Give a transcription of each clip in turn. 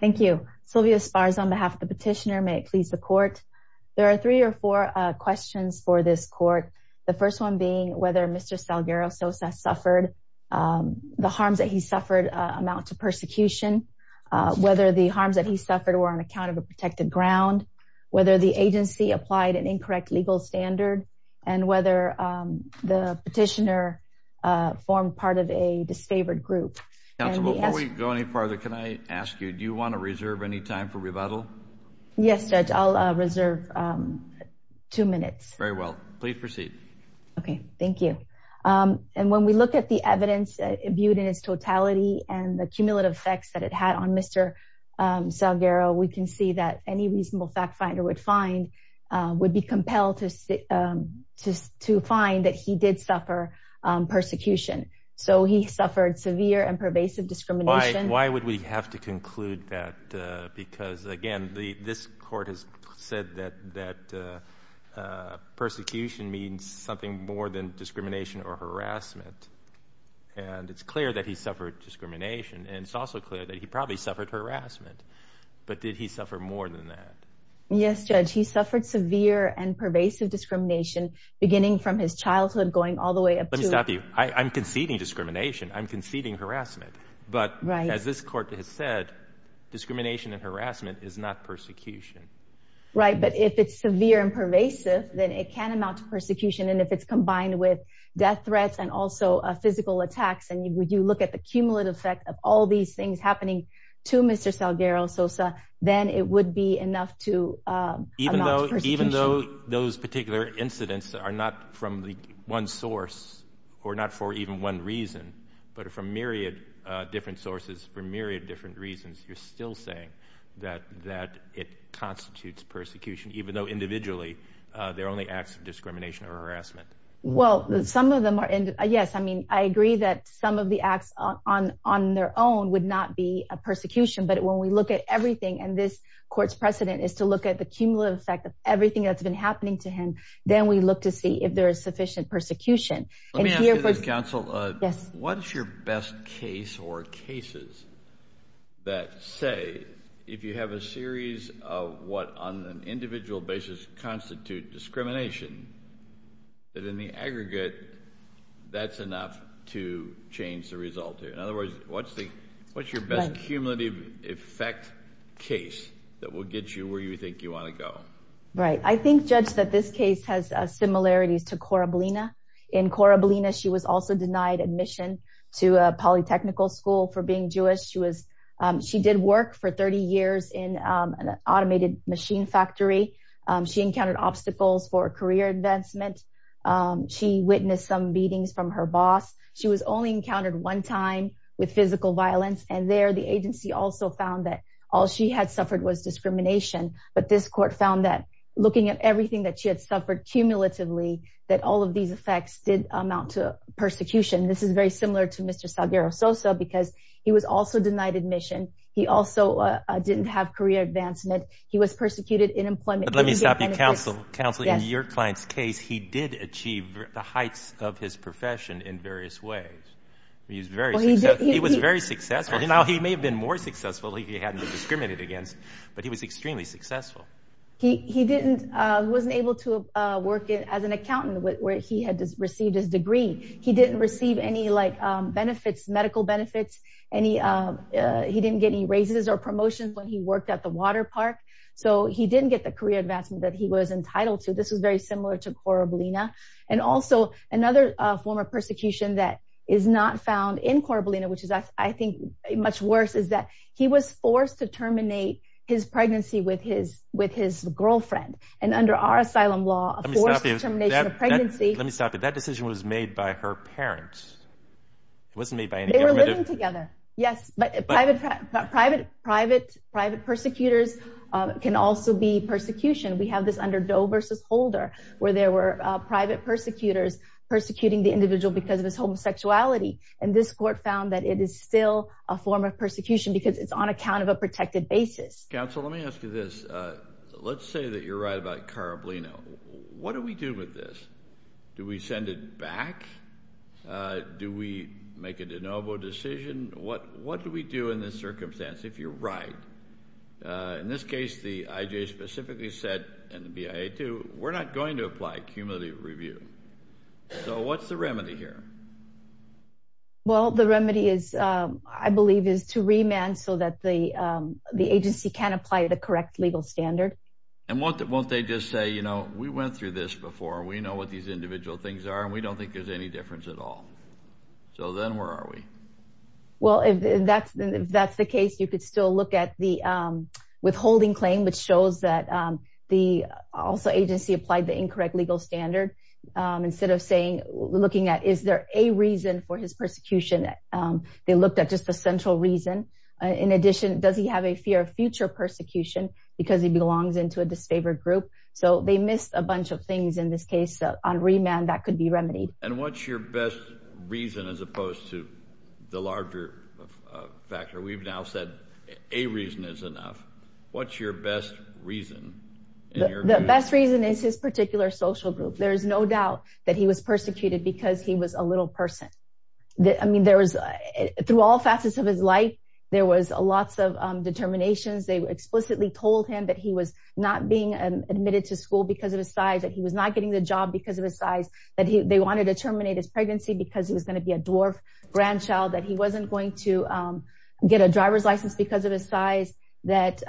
Thank you Sylvia Spars on behalf of the petitioner may it please the court there are three or four Questions for this court the first one being whether mr. Salguero Sosa suffered The harms that he suffered amount to persecution Whether the harms that he suffered were on account of a protected ground whether the agency applied an incorrect legal standard and whether the petitioner Formed part of a disfavored group before we go any farther. Can I ask you? Do you want to reserve any time for rebuttal? Yes, judge. I'll reserve Two minutes very well, please proceed. Okay. Thank you And when we look at the evidence viewed in its totality and the cumulative effects that it had on mr Salguero we can see that any reasonable fact finder would find Would be compelled to sit Just to find that he did suffer Persecution so he suffered severe and pervasive discrimination. Why would we have to conclude that? because again, the this court has said that that Persecution means something more than discrimination or harassment and It's clear that he suffered discrimination and it's also clear that he probably suffered harassment But did he suffer more than that? Yes, judge he suffered severe and pervasive discrimination beginning from his childhood going all the way up to stop you I'm conceding discrimination I'm conceding harassment, but right as this court has said Discrimination and harassment is not persecution, right? But if it's severe and pervasive then it can amount to persecution and if it's combined with death threats and also Physical attacks and you would you look at the cumulative effect of all these things happening to mr Salguero Sosa, then it would be enough to Even though even though those particular incidents are not from the one source or not for even one reason But from myriad different sources for myriad different reasons You're still saying that that it constitutes persecution, even though individually there are only acts of discrimination or harassment Well, some of them are and yes I mean, I agree that some of the acts on on their own would not be a persecution but when we look at everything and this Courts precedent is to look at the cumulative effect of everything that's been happening to him Then we look to see if there is sufficient persecution. Let me ask you this counsel. Yes. What's your best case or cases? That say if you have a series of what on an individual basis constitute discrimination that in the aggregate That's enough to change the result here in other words, what's the what's your best cumulative effect? Case that will get you where you think you want to go, right? I think judge that this case has similarities to Corabellina in Corabellina She was also denied admission to a polytechnical school for being Jewish She was she did work for 30 years in an automated machine factory She encountered obstacles for a career advancement She witnessed some beatings from her boss She was only encountered one time with physical violence and there the agency also found that all she had suffered was discrimination But this court found that looking at everything that she had suffered cumulatively that all of these effects did amount to persecution This is very similar to mr. Salguero Sosa because he was also denied admission. He also didn't have career advancement He was persecuted in employment. Let me stop you counsel counsel in your client's case He did achieve the heights of his profession in various ways He's very he was very successful. Now. He may have been more successful He hadn't discriminated against but he was extremely successful He he didn't wasn't able to work it as an accountant where he had received his degree he didn't receive any like benefits medical benefits and he He didn't get any raises or promotions when he worked at the water park so he didn't get the career advancement that he was entitled to this was very similar to Corabellina and also another form of persecution that Is not found in Corabellina which is I think much worse is that he was forced to terminate his pregnancy with his with his Girlfriend and under our asylum law Pregnancy let me stop it that decision was made by her parents Wasn't made by any government together. Yes, but private private private private persecutors Can also be persecution we have this under Doe versus Holder where there were private persecutors persecuting the individual because of his homosexuality and this court found that it is still a form of persecution because it's on account of a Protected basis counsel. Let me ask you this Let's say that you're right about Corabellina. What do we do with this? Do we send it back? Do we make a de novo decision what what do we do in this circumstance if you're right? In this case the IJ specifically said and the BIA to we're not going to apply cumulative review So what's the remedy here? Well, the remedy is I believe is to remand so that the the agency can apply the correct legal standard And what that won't they just say, you know, we went through this before we know what these individual things are We don't think there's any difference at all So then where are we? well, if that's that's the case you could still look at the Withholding claim which shows that the also agency applied the incorrect legal standard Instead of saying looking at is there a reason for his persecution? They looked at just a central reason in addition Does he have a fear of future persecution because he belongs into a disfavored group? So they missed a bunch of things in this case on remand that could be remedied and what's your best reason as opposed to the larger Factor we've now said a reason is enough. What's your best reason? The best reason is his particular social group. There's no doubt that he was persecuted because he was a little person That I mean there was through all facets of his life. There was lots of Admitted to school because of his size that he was not getting the job because of his size that he they wanted to terminate his Pregnancy because he was going to be a dwarf grandchild that he wasn't going to get a driver's license because of his size that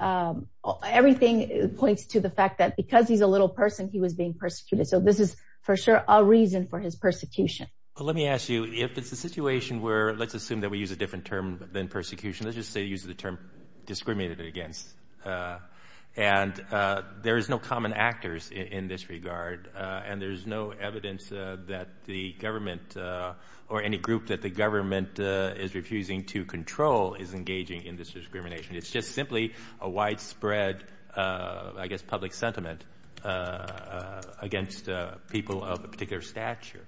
Everything points to the fact that because he's a little person he was being persecuted So this is for sure a reason for his persecution Well, let me ask you if it's a situation where let's assume that we use a different term than persecution let's just say use the term discriminated against and There is no common actors in this regard and there's no evidence that the government Or any group that the government is refusing to control is engaging in this discrimination. It's just simply a widespread I guess public sentiment Against people of a particular stature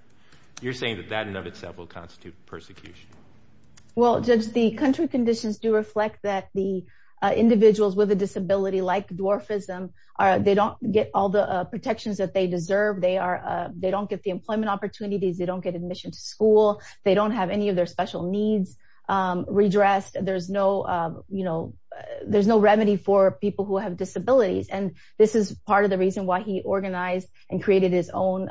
you're saying that that in of itself will constitute persecution well judge the country conditions do reflect that the Individuals with a disability like dwarfism are they don't get all the protections that they deserve They are they don't get the employment opportunities. They don't get admission to school. They don't have any of their special needs Redressed there's no, you know There's no remedy for people who have disabilities and this is part of the reason why he organized and created his own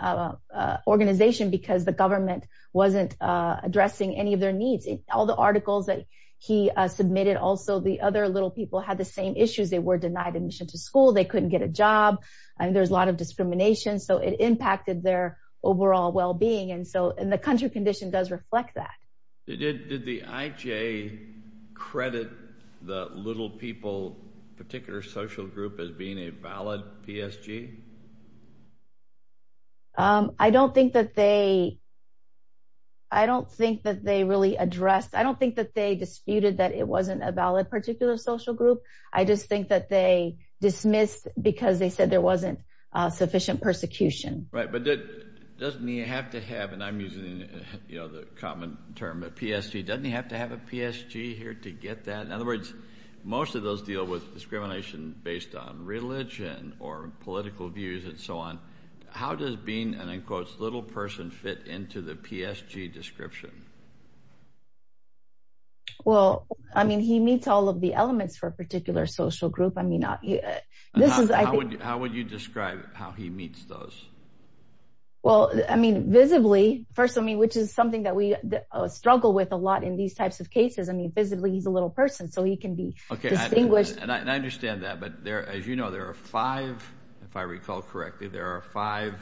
organization because the government wasn't Addressing any of their needs all the articles that he submitted also the other little people had the same issues They were denied admission to school. They couldn't get a job and there's a lot of discrimination So it impacted their overall well-being and so in the country condition does reflect that it did did the IJ Credit the little people particular social group as being a valid PSG I don't think that they I Don't think that they really addressed. I don't think that they disputed that it wasn't a valid particular social group. I just think that they Dismissed because they said there wasn't sufficient persecution, right? But it doesn't you have to have and I'm using You know the common term a PSG doesn't you have to have a PSG here to get that in other words? Most of those deal with discrimination based on religion or political views and so on How does being an enclosed little person fit into the PSG description Well, I mean he meets all of the elements for a particular social group, I mean not yeah, this is I would how would you describe How he meets those? Well, I mean visibly first. I mean which is something that we Struggle with a lot in these types of cases. I mean visibly he's a little person so he can be okay I think wish and I understand that but there as you know, there are five if I recall correctly there are five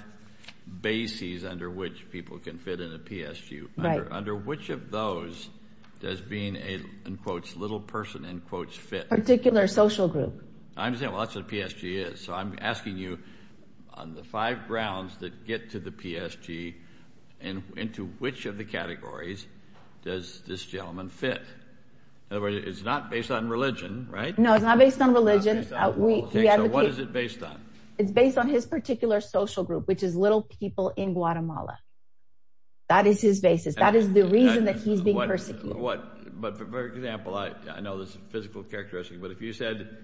Bases under which people can fit in a PSU right under which of those? Does being a in quotes little person in quotes fit particular social group? I'm saying lots of PSG is so I'm asking you on the five grounds that get to the PSG and Into which of the categories does this gentleman fit? In other words, it's not based on religion, right? No, it's not based on religion We have what is it based on it's based on his particular social group, which is little people in Guatemala That is his basis. That is the reason that he's being persecuted what but for example, I know this physical characteristic But if you said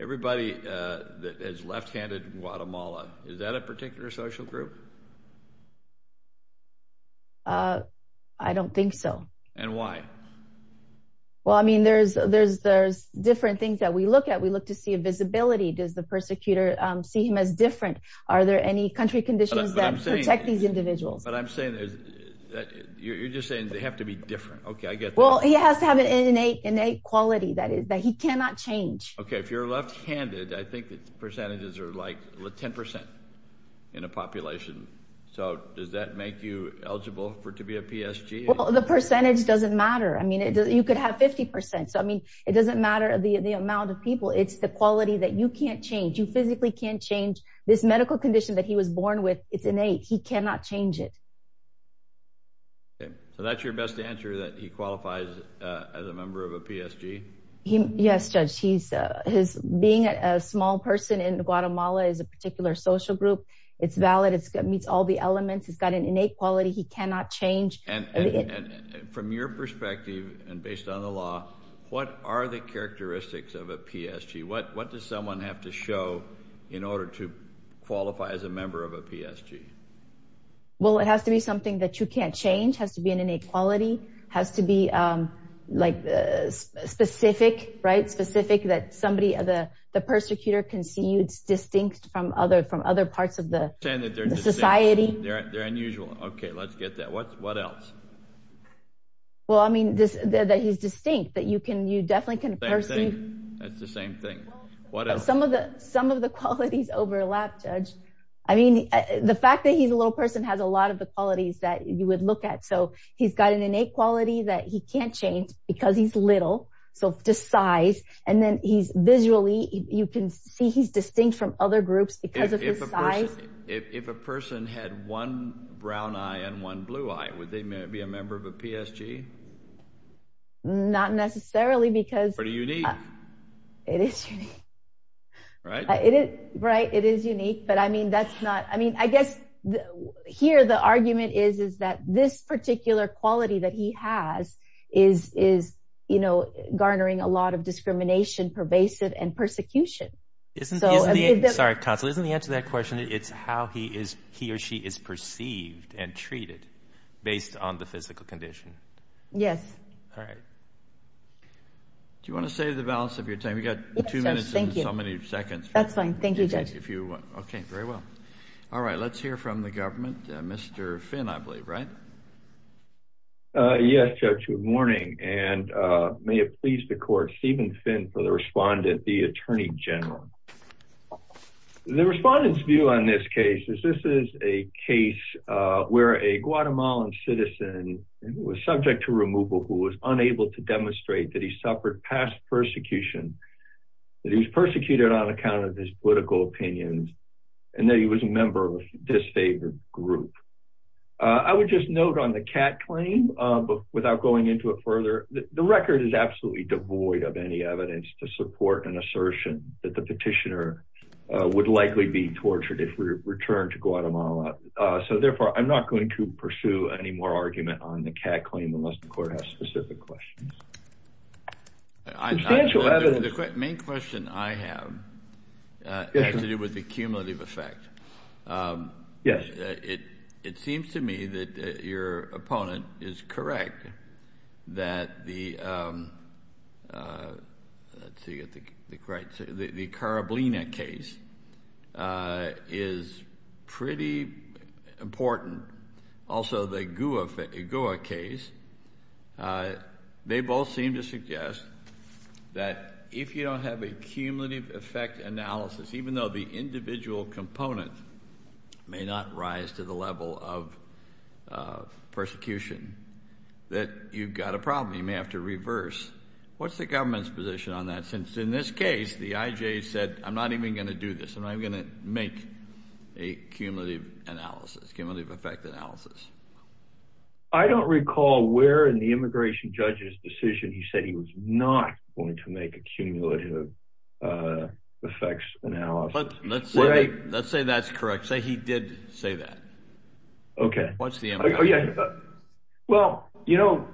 everybody that is left-handed in Guatemala, is that a particular social group? I don't think so. And why? Well, I mean there's there's there's different things that we look at we look to see a visibility does the persecutor see him as different Are there any country conditions that protect these individuals, but I'm saying You're just saying they have to be different. Okay, I get well He has to have an innate innate quality that is that he cannot change. Okay, if you're left-handed I think the percentages are like 10% in a population. So does that make you eligible for to be a PSG? The percentage doesn't matter. I mean it does you could have 50% So, I mean it doesn't matter the the amount of people It's the quality that you can't change you physically can't change this medical condition that he was born with. It's innate He cannot change it So that's your best answer that he qualifies as a member of a PSG He yes judge. He's his being a small person in Guatemala is a particular social group. It's valid It's got meets all the elements. He's got an innate quality. He cannot change From your perspective and based on the law, what are the characteristics of a PSG? What what does someone have to show in order to qualify as a member of a PSG? well, it has to be something that you can't change has to be an innate quality has to be like specific right specific that somebody other the persecutor can see you it's distinct from other from other parts of the Society Well, I mean this that he's distinct that you can you definitely can Some of the some of the qualities overlap judge I mean the fact that he's a little person has a lot of the qualities that you would look at so he's got an innate Quality that he can't change because he's little so to size and then he's visually you can see he's distinct from other groups If a person had one brown eye and one blue eye would they may be a member of a PSG Not necessarily because what do you need? It is Right. It is right. It is unique. But I mean that's not I mean, I guess Here the argument is is that this particular quality that he has is is you know? garnering a lot of discrimination pervasive and persecution Isn't sorry console isn't the answer that question It's how he is he or she is perceived and treated based on the physical condition. Yes Do you want to say the balance of your time you got That's fine, thank you judge if you okay very well. All right. Let's hear from the government. Mr. Finn, I believe right Yes, judge good morning and May it please the court Stephen Finn for the respondent the Attorney General The respondents view on this case is this is a case Where a Guatemalan citizen was subject to removal who was unable to demonstrate that he suffered past persecution That he was persecuted on account of his political opinions and that he was a member of a disfavored group I would just note on the cat claim Without going into it further the record is absolutely devoid of any evidence to support an assertion that the petitioner Would likely be tortured if we return to Guatemala So therefore I'm not going to pursue any more argument on the cat claim unless the court has specific questions Main question I have Has to do with the cumulative effect Yes, it it seems to me that your opponent is correct that the Right the Karablina case is pretty important also the Goua case They both seem to suggest That if you don't have a cumulative effect analysis, even though the individual component may not rise to the level of Persecution that you've got a problem. You may have to reverse What's the government's position on that since in this case the IJ said I'm not even going to do this I'm going to make a cumulative analysis cumulative effect analysis I Am not going to make a cumulative effects analysis Let's say that's correct say he did say that Okay Well, you know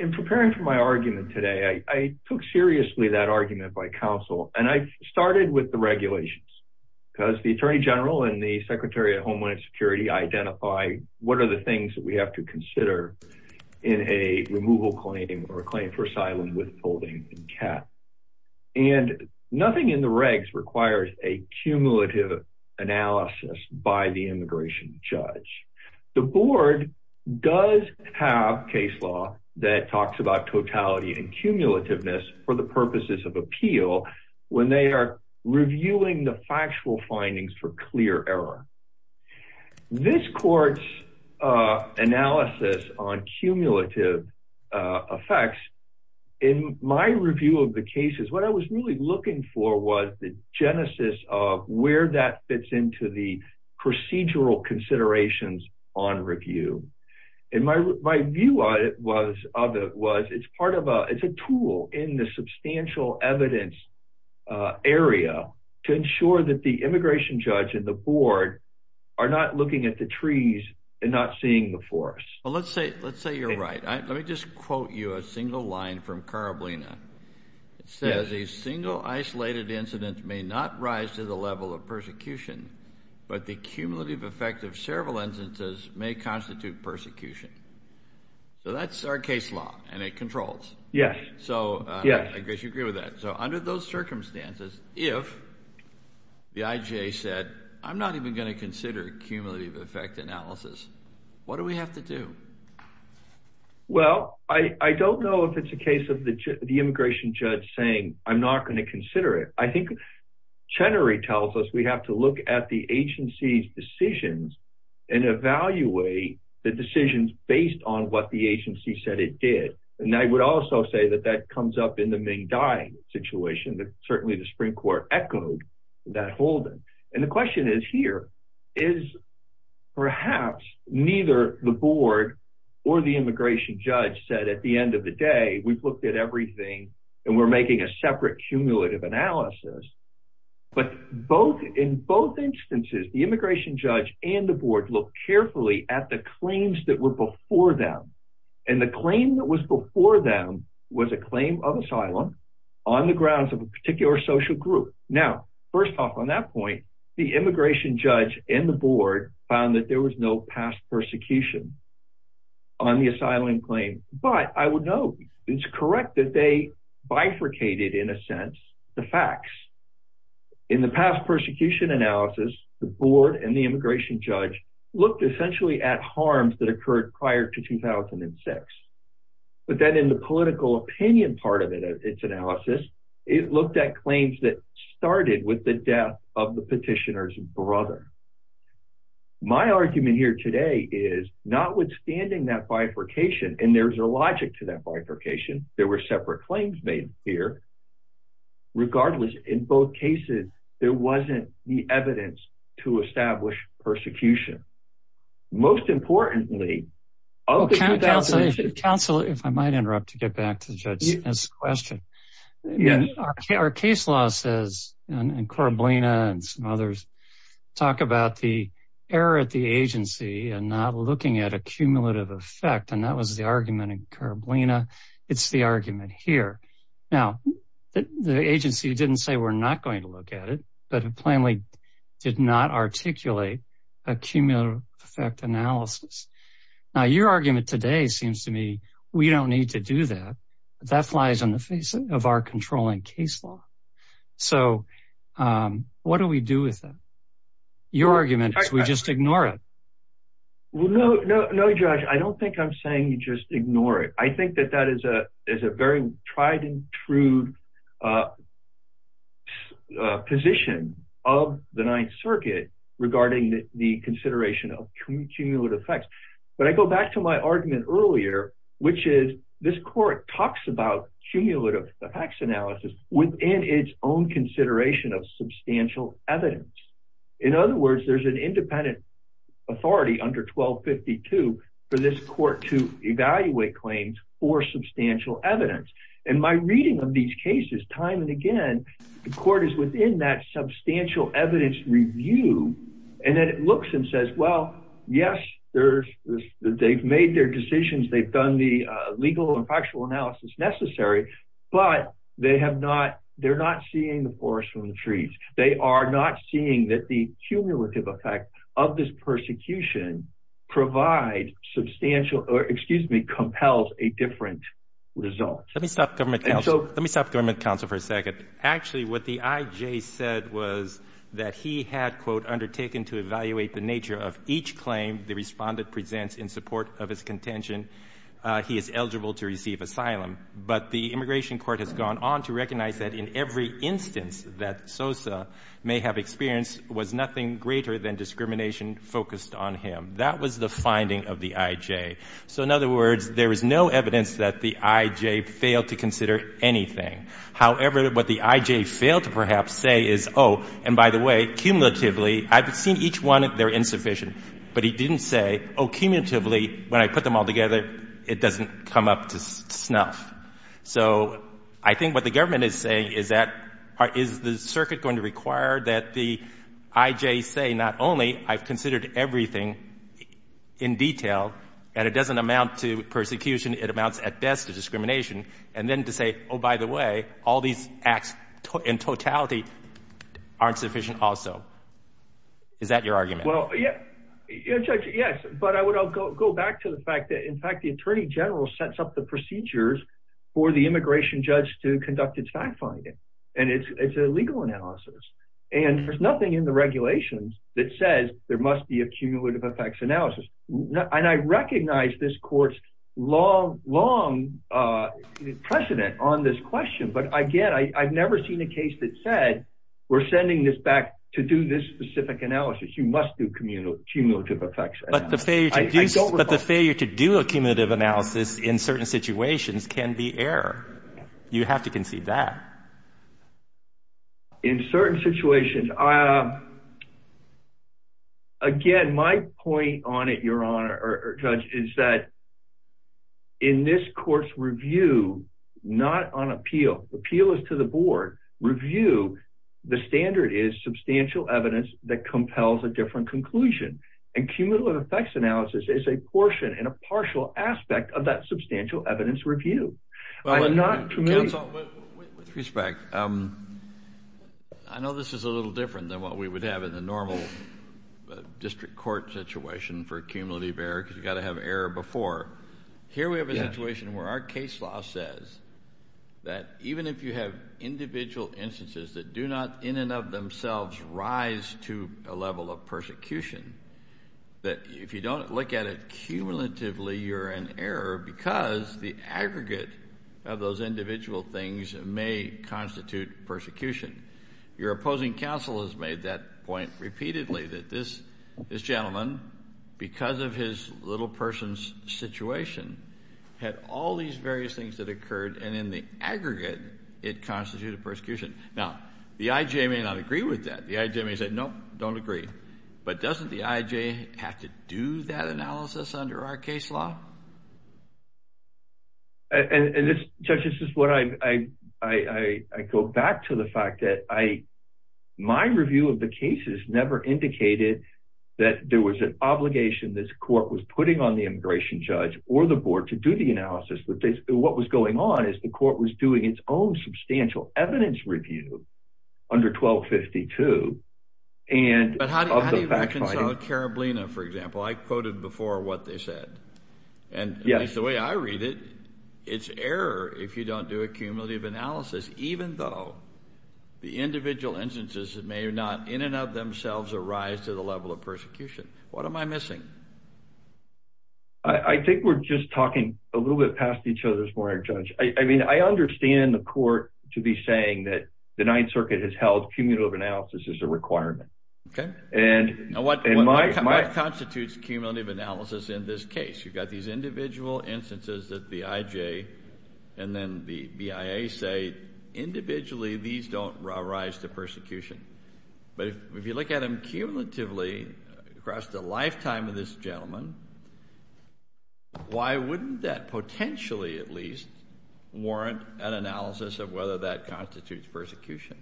In preparing for my argument today. I took seriously that argument by counsel and I started with the regulations Because the Attorney General and the Secretary of Homeland Security identify What are the things that we have to consider in a removal claiming or a claim for asylum withholding in cap and nothing in the regs requires a cumulative analysis by the immigration judge the board Does have case law that talks about totality and cumulativeness for the purposes of appeal? When they are reviewing the factual findings for clear error This court's analysis on cumulative effects in my review of the cases what I was really looking for was the genesis of where that fits into the procedural considerations on review in my view I was other was it's part of a it's a tool in the substantial evidence Area to ensure that the immigration judge and the board are not looking at the trees and not seeing the forest Well, let's say let's say you're right. Let me just quote you a single line from Caraballina It says a single isolated incident may not rise to the level of persecution But the cumulative effect of several instances may constitute persecution So that's our case law and it controls. Yes. So yeah, I guess you agree with that so under those circumstances if The IJ said I'm not even going to consider a cumulative effect analysis. What do we have to do? Well, I I don't know if it's a case of the immigration judge saying I'm not going to consider it. I think Chenery tells us we have to look at the agency's decisions and Evaluate the decisions based on what the agency said it did and I would also say that that comes up in the main dying situation that certainly the Supreme Court echoed that Holden and the question is here is Perhaps neither the board or the immigration judge said at the end of the day We've looked at everything and we're making a separate cumulative analysis but both in both instances the immigration judge and the board look carefully at the claims that were before them and The claim that was before them was a claim of asylum on the grounds of a particular social group now First off on that point the immigration judge in the board found that there was no past persecution On the asylum claim, but I would know it's correct that they bifurcated in a sense the facts in The past persecution analysis the board and the immigration judge looked essentially at harms that occurred prior to 2006 But then in the political opinion part of it as its analysis It looked at claims that started with the death of the petitioner's brother My argument here today is notwithstanding that bifurcation and there's a logic to that bifurcation. There were separate claims made here Regardless in both cases there wasn't the evidence to establish persecution most importantly Council if I might interrupt to get back to the judge's question Yeah, our case law says and Coroblina and some others Talk about the error at the agency and not looking at a cumulative effect. And that was the argument in Coroblina It's the argument here now The agency didn't say we're not going to look at it, but it plainly did not articulate a cumulative effect analysis Now your argument today seems to me we don't need to do that. That flies on the face of our controlling case law so What do we do with them? Your argument is we just ignore it Well, no, no, no judge. I don't think I'm saying you just ignore it. I think that that is a is a very tried-and-true Position of the Ninth Circuit Regarding the consideration of cumulative effects, but I go back to my argument earlier Which is this court talks about cumulative effects analysis within its own consideration of substantial evidence in other words there's an independent authority under 1252 for this court to evaluate claims for Substantial evidence and my reading of these cases time and again the court is within that substantial evidence Review and that it looks and says well, yes, there's they've made their decisions They've done the legal and factual analysis necessary But they have not they're not seeing the forest from the trees They are not seeing that the cumulative effect of this persecution provide Substantial or excuse me compels a different result. Let me stop government council Let me stop government council for a second Actually what the IJ said was that he had quote undertaken to evaluate the nature of each claim The respondent presents in support of his contention He is eligible to receive asylum But the immigration court has gone on to recognize that in every instance that Sosa may have experienced was nothing greater than Discrimination focused on him. That was the finding of the IJ So in other words, there is no evidence that the IJ failed to consider anything However, what the IJ failed to perhaps say is oh and by the way cumulatively I've seen each one They're insufficient, but he didn't say Oh cumulatively when I put them all together It doesn't come up to snuff so I think what the government is saying is that part is the circuit going to require that the IJ say not only I've considered everything in Detail and it doesn't amount to persecution it amounts at best to discrimination and then to say oh by the way all these acts in totality Aren't sufficient also Is that your argument? Well, yeah Yes, but I would I'll go back to the fact that in fact the Attorney General sets up the procedures For the immigration judge to conduct its fact-finding and it's it's a legal analysis And there's nothing in the regulations that says there must be a cumulative effects analysis And I recognize this courts long long Precedent on this question But again, I've never seen a case that said we're sending this back to do this specific analysis You must do communal cumulative effects But the failure to do a cumulative analysis in certain situations can be error. You have to concede that In certain situations, uh Again my point on it your honor or judge is that in this court's review Not on appeal appeal is to the board review the standard is substantial evidence that compels a different conclusion and Cumulative effects analysis is a portion and a partial aspect of that substantial evidence review. Well, I'm not With respect, I Know this is a little different than what we would have in the normal District court situation for a cumulative error because you got to have error before Here we have a situation where our case law says that even if you have Individual instances that do not in and of themselves rise to a level of persecution That if you don't look at it Cumulatively, you're an error because the aggregate of those individual things may constitute persecution Your opposing counsel has made that point repeatedly that this this gentleman because of his little person's Situation had all these various things that occurred and in the aggregate it Constituted persecution now the IJ may not agree with that Jimmy said nope don't agree, but doesn't the IJ have to do that analysis under our case law? And this judge this is what I I I I go back to the fact that I my review of the cases never indicated that There was an obligation this court was putting on the immigration judge or the board to do the analysis But they what was going on is the court was doing its own substantial evidence review Under 1252 and Carabino for example, I quoted before what they said and yes the way I read it It's error. If you don't do a cumulative analysis, even though The individual instances that may or not in and of themselves arise to the level of persecution. What am I missing? I Think we're just talking a little bit past each other's for our judge I mean, I understand the court to be saying that the Ninth Circuit has held cumulative analysis is a requirement Okay, and what in my constitutes cumulative analysis in this case You've got these individual instances that the IJ and then the BIA say Individually, these don't rise to persecution, but if you look at them cumulatively across the lifetime of this gentleman Why wouldn't that potentially at least warrant an analysis of whether that constitutes persecution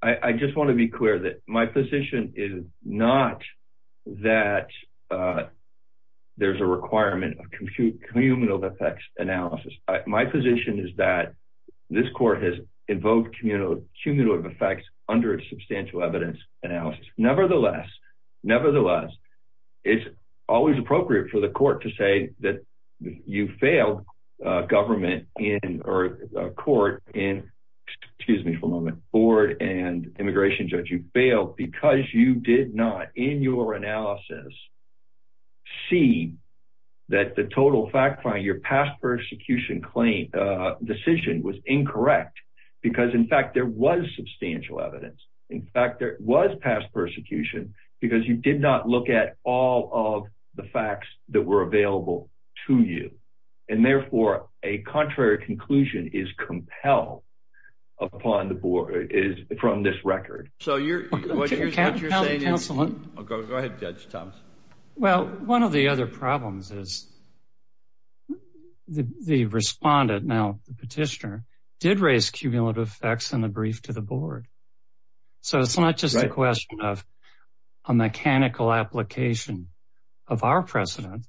I Just want to be clear that my position is not that There's a requirement of compute cumulative effects analysis My position is that this court has invoked communal cumulative effects under its substantial evidence analysis nevertheless Nevertheless, it's always appropriate for the court to say that you failed government in or a court in Excuse me for a moment board and immigration judge you failed because you did not in your analysis see That the total fact find your past persecution claim Decision was incorrect because in fact there was substantial evidence In fact, there was past persecution because you did not look at all of the facts that were available to you And therefore a contrary conclusion is compelled Upon the board is from this record. So you're Well, one of the other problems is The respondent now the petitioner did raise cumulative facts in the brief to the board So it's not just a question of a mechanical application of our precedent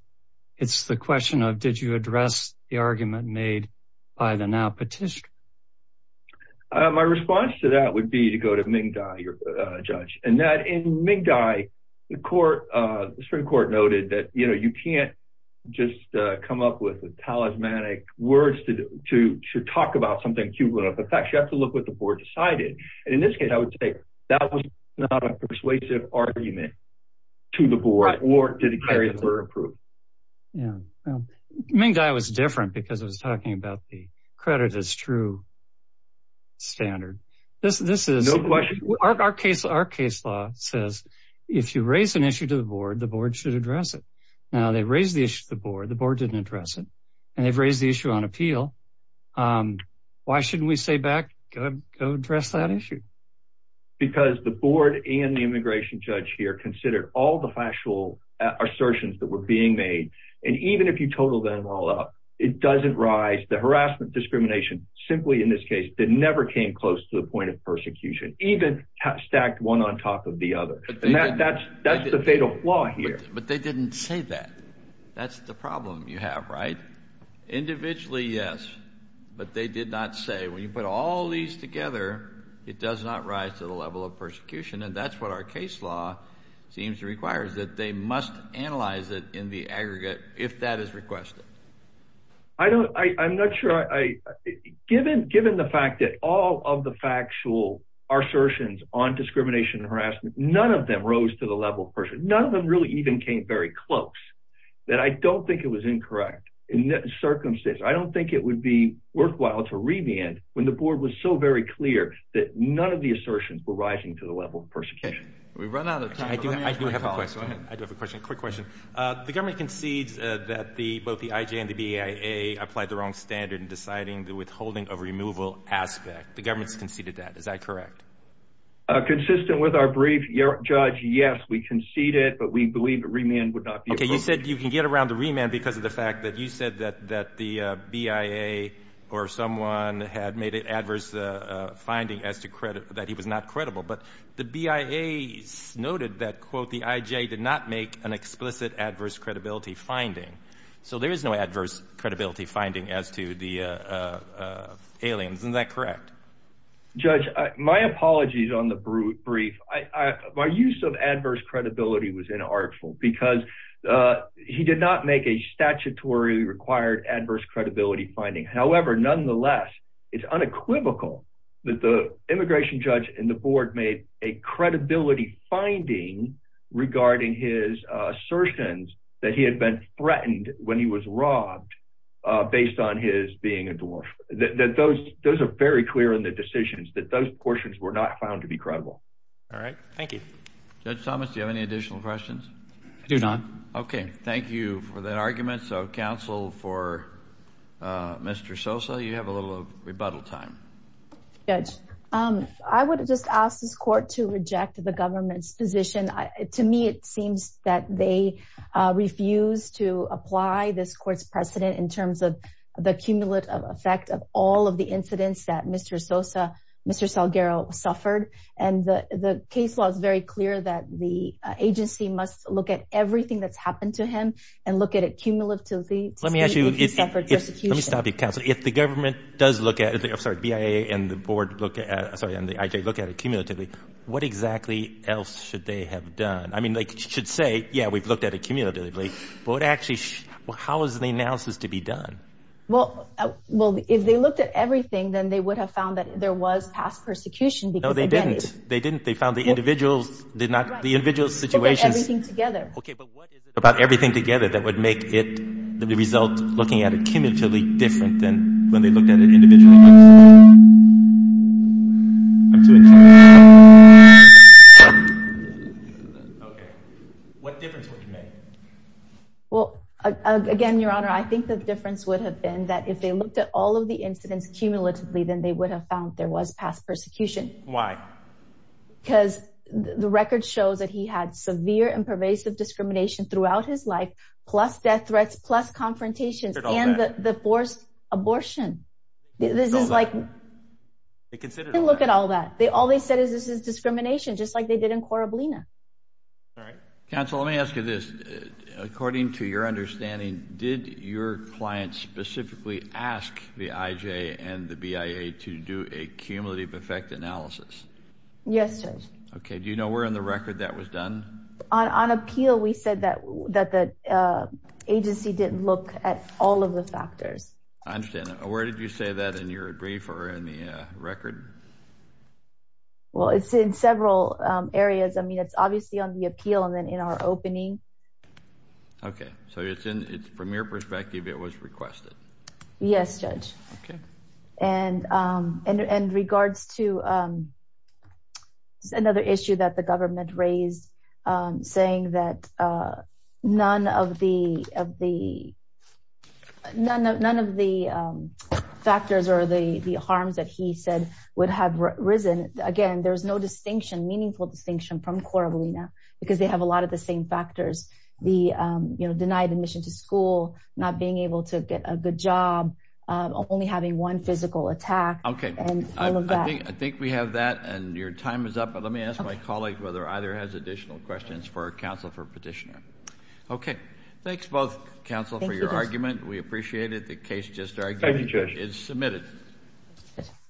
It's the question of did you address the argument made by the now petition? My response to that would be to go to Ming Dai your judge and that in Ming Dai the court The Supreme Court noted that, you know, you can't just come up with a talismanic words to to to talk about something cumulative effects You have to look what the board decided and in this case, I would say that was not a persuasive argument To the board or did it carry over approved? Yeah Ming Dai was different because I was talking about the credit as true Standard this this is Our case our case law says if you raise an issue to the board the board should address it Now they raised the issue the board the board didn't address it and they've raised the issue on appeal Why shouldn't we say back go address that issue Because the board and the immigration judge here considered all the factual Assertions that were being made and even if you total them all up It doesn't rise the harassment discrimination simply in this case that never came close to the point of persecution even Stacked one on top of the other and that that's that's the fatal flaw here, but they didn't say that That's the problem you have right? Individually yes, but they did not say when you put all these together It does not rise to the level of persecution and that's what our case law Seems to requires that they must analyze it in the aggregate if that is requested. I Don't I I'm not sure I Given given the fact that all of the factual Assertions on discrimination and harassment none of them rose to the level person None of them really even came very close that I don't think it was incorrect in that circumstance I don't think it would be worthwhile to revand when the board was so very clear that none of the assertions were rising to the level of persecution The government concedes that the both the IJ and the BA a applied the wrong standard in deciding the withholding of removal aspect The government's conceded that is that correct? Consistent with our brief your judge. Yes, we conceded but we believe the remand would not be okay You said you can get around the remand because of the fact that you said that that the BIA or someone had made it adverse Finding as to credit that he was not credible, but the BIA Noted that quote the IJ did not make an explicit adverse credibility finding. So there is no adverse credibility finding as to the Aliens, isn't that correct? Judge my apologies on the brute brief. I my use of adverse credibility was inartful because He did not make a statutory required adverse credibility finding. However, nonetheless It's unequivocal that the immigration judge and the board made a credibility finding Regarding his assertions that he had been threatened when he was robbed Based on his being a dwarf that those those are very clear in the decisions that those portions were not found to be credible All right. Thank you. Judge Thomas. Do you have any additional questions? I do not. Okay. Thank you for that argument. So counsel for Mr. Sosa you have a little rebuttal time Judge, um, I would just ask this court to reject the government's position to me. It seems that they Refuse to apply this court's precedent in terms of the cumulative effect of all of the incidents that mr. Sosa Mr. Salguero suffered and the the case law is very clear that the agency must look at everything that's happened to him and look At it cumulatively. Let me ask you Let me stop you counsel if the government does look at it I'm sorry BIA and the board look at sorry and the IJ look at a cumulatively what exactly else should they have done? I mean they should say yeah, we've looked at it cumulatively, but actually how is the analysis to be done? Well, well if they looked at everything then they would have found that there was past persecution because they didn't they didn't they found the individuals Did not the individual situation together? Okay, but what about everything together? That would make it the result looking at a cumulatively different than when they looked at an individual What difference Well Again, your honor I think the difference would have been that if they looked at all of the incidents cumulatively then they would have found there was past persecution why Because the record shows that he had severe and pervasive discrimination throughout his life plus death threats plus confrontations and the forced abortion this is like Look at all that. They all they said is this is discrimination just like they did in Corabellina Council let me ask you this according to your understanding did your client specifically ask the IJ and the BIA to do a cumulative effect analysis Yes, okay. Do you know we're in the record that was done on on appeal? We said that that the Agency didn't look at all of the factors. I understand. Where did you say that in your brief or in the record? Well, it's in several areas, I mean it's obviously on the appeal and then in our opening Okay, so it's in it's from your perspective. It was requested. Yes, judge. Okay, and and in regards to Another issue that the government raised saying that none of the of the none of none of the Factors or the the harms that he said would have risen again There's no distinction meaningful distinction from Corabellina because they have a lot of the same factors the you know Deny the mission to school not being able to get a good job Only having one physical attack. Okay, I think we have that and your time is up But let me ask my colleague whether either has additional questions for a counsel for petitioner Thanks both counsel for your argument, we appreciate it the case just argued is submitted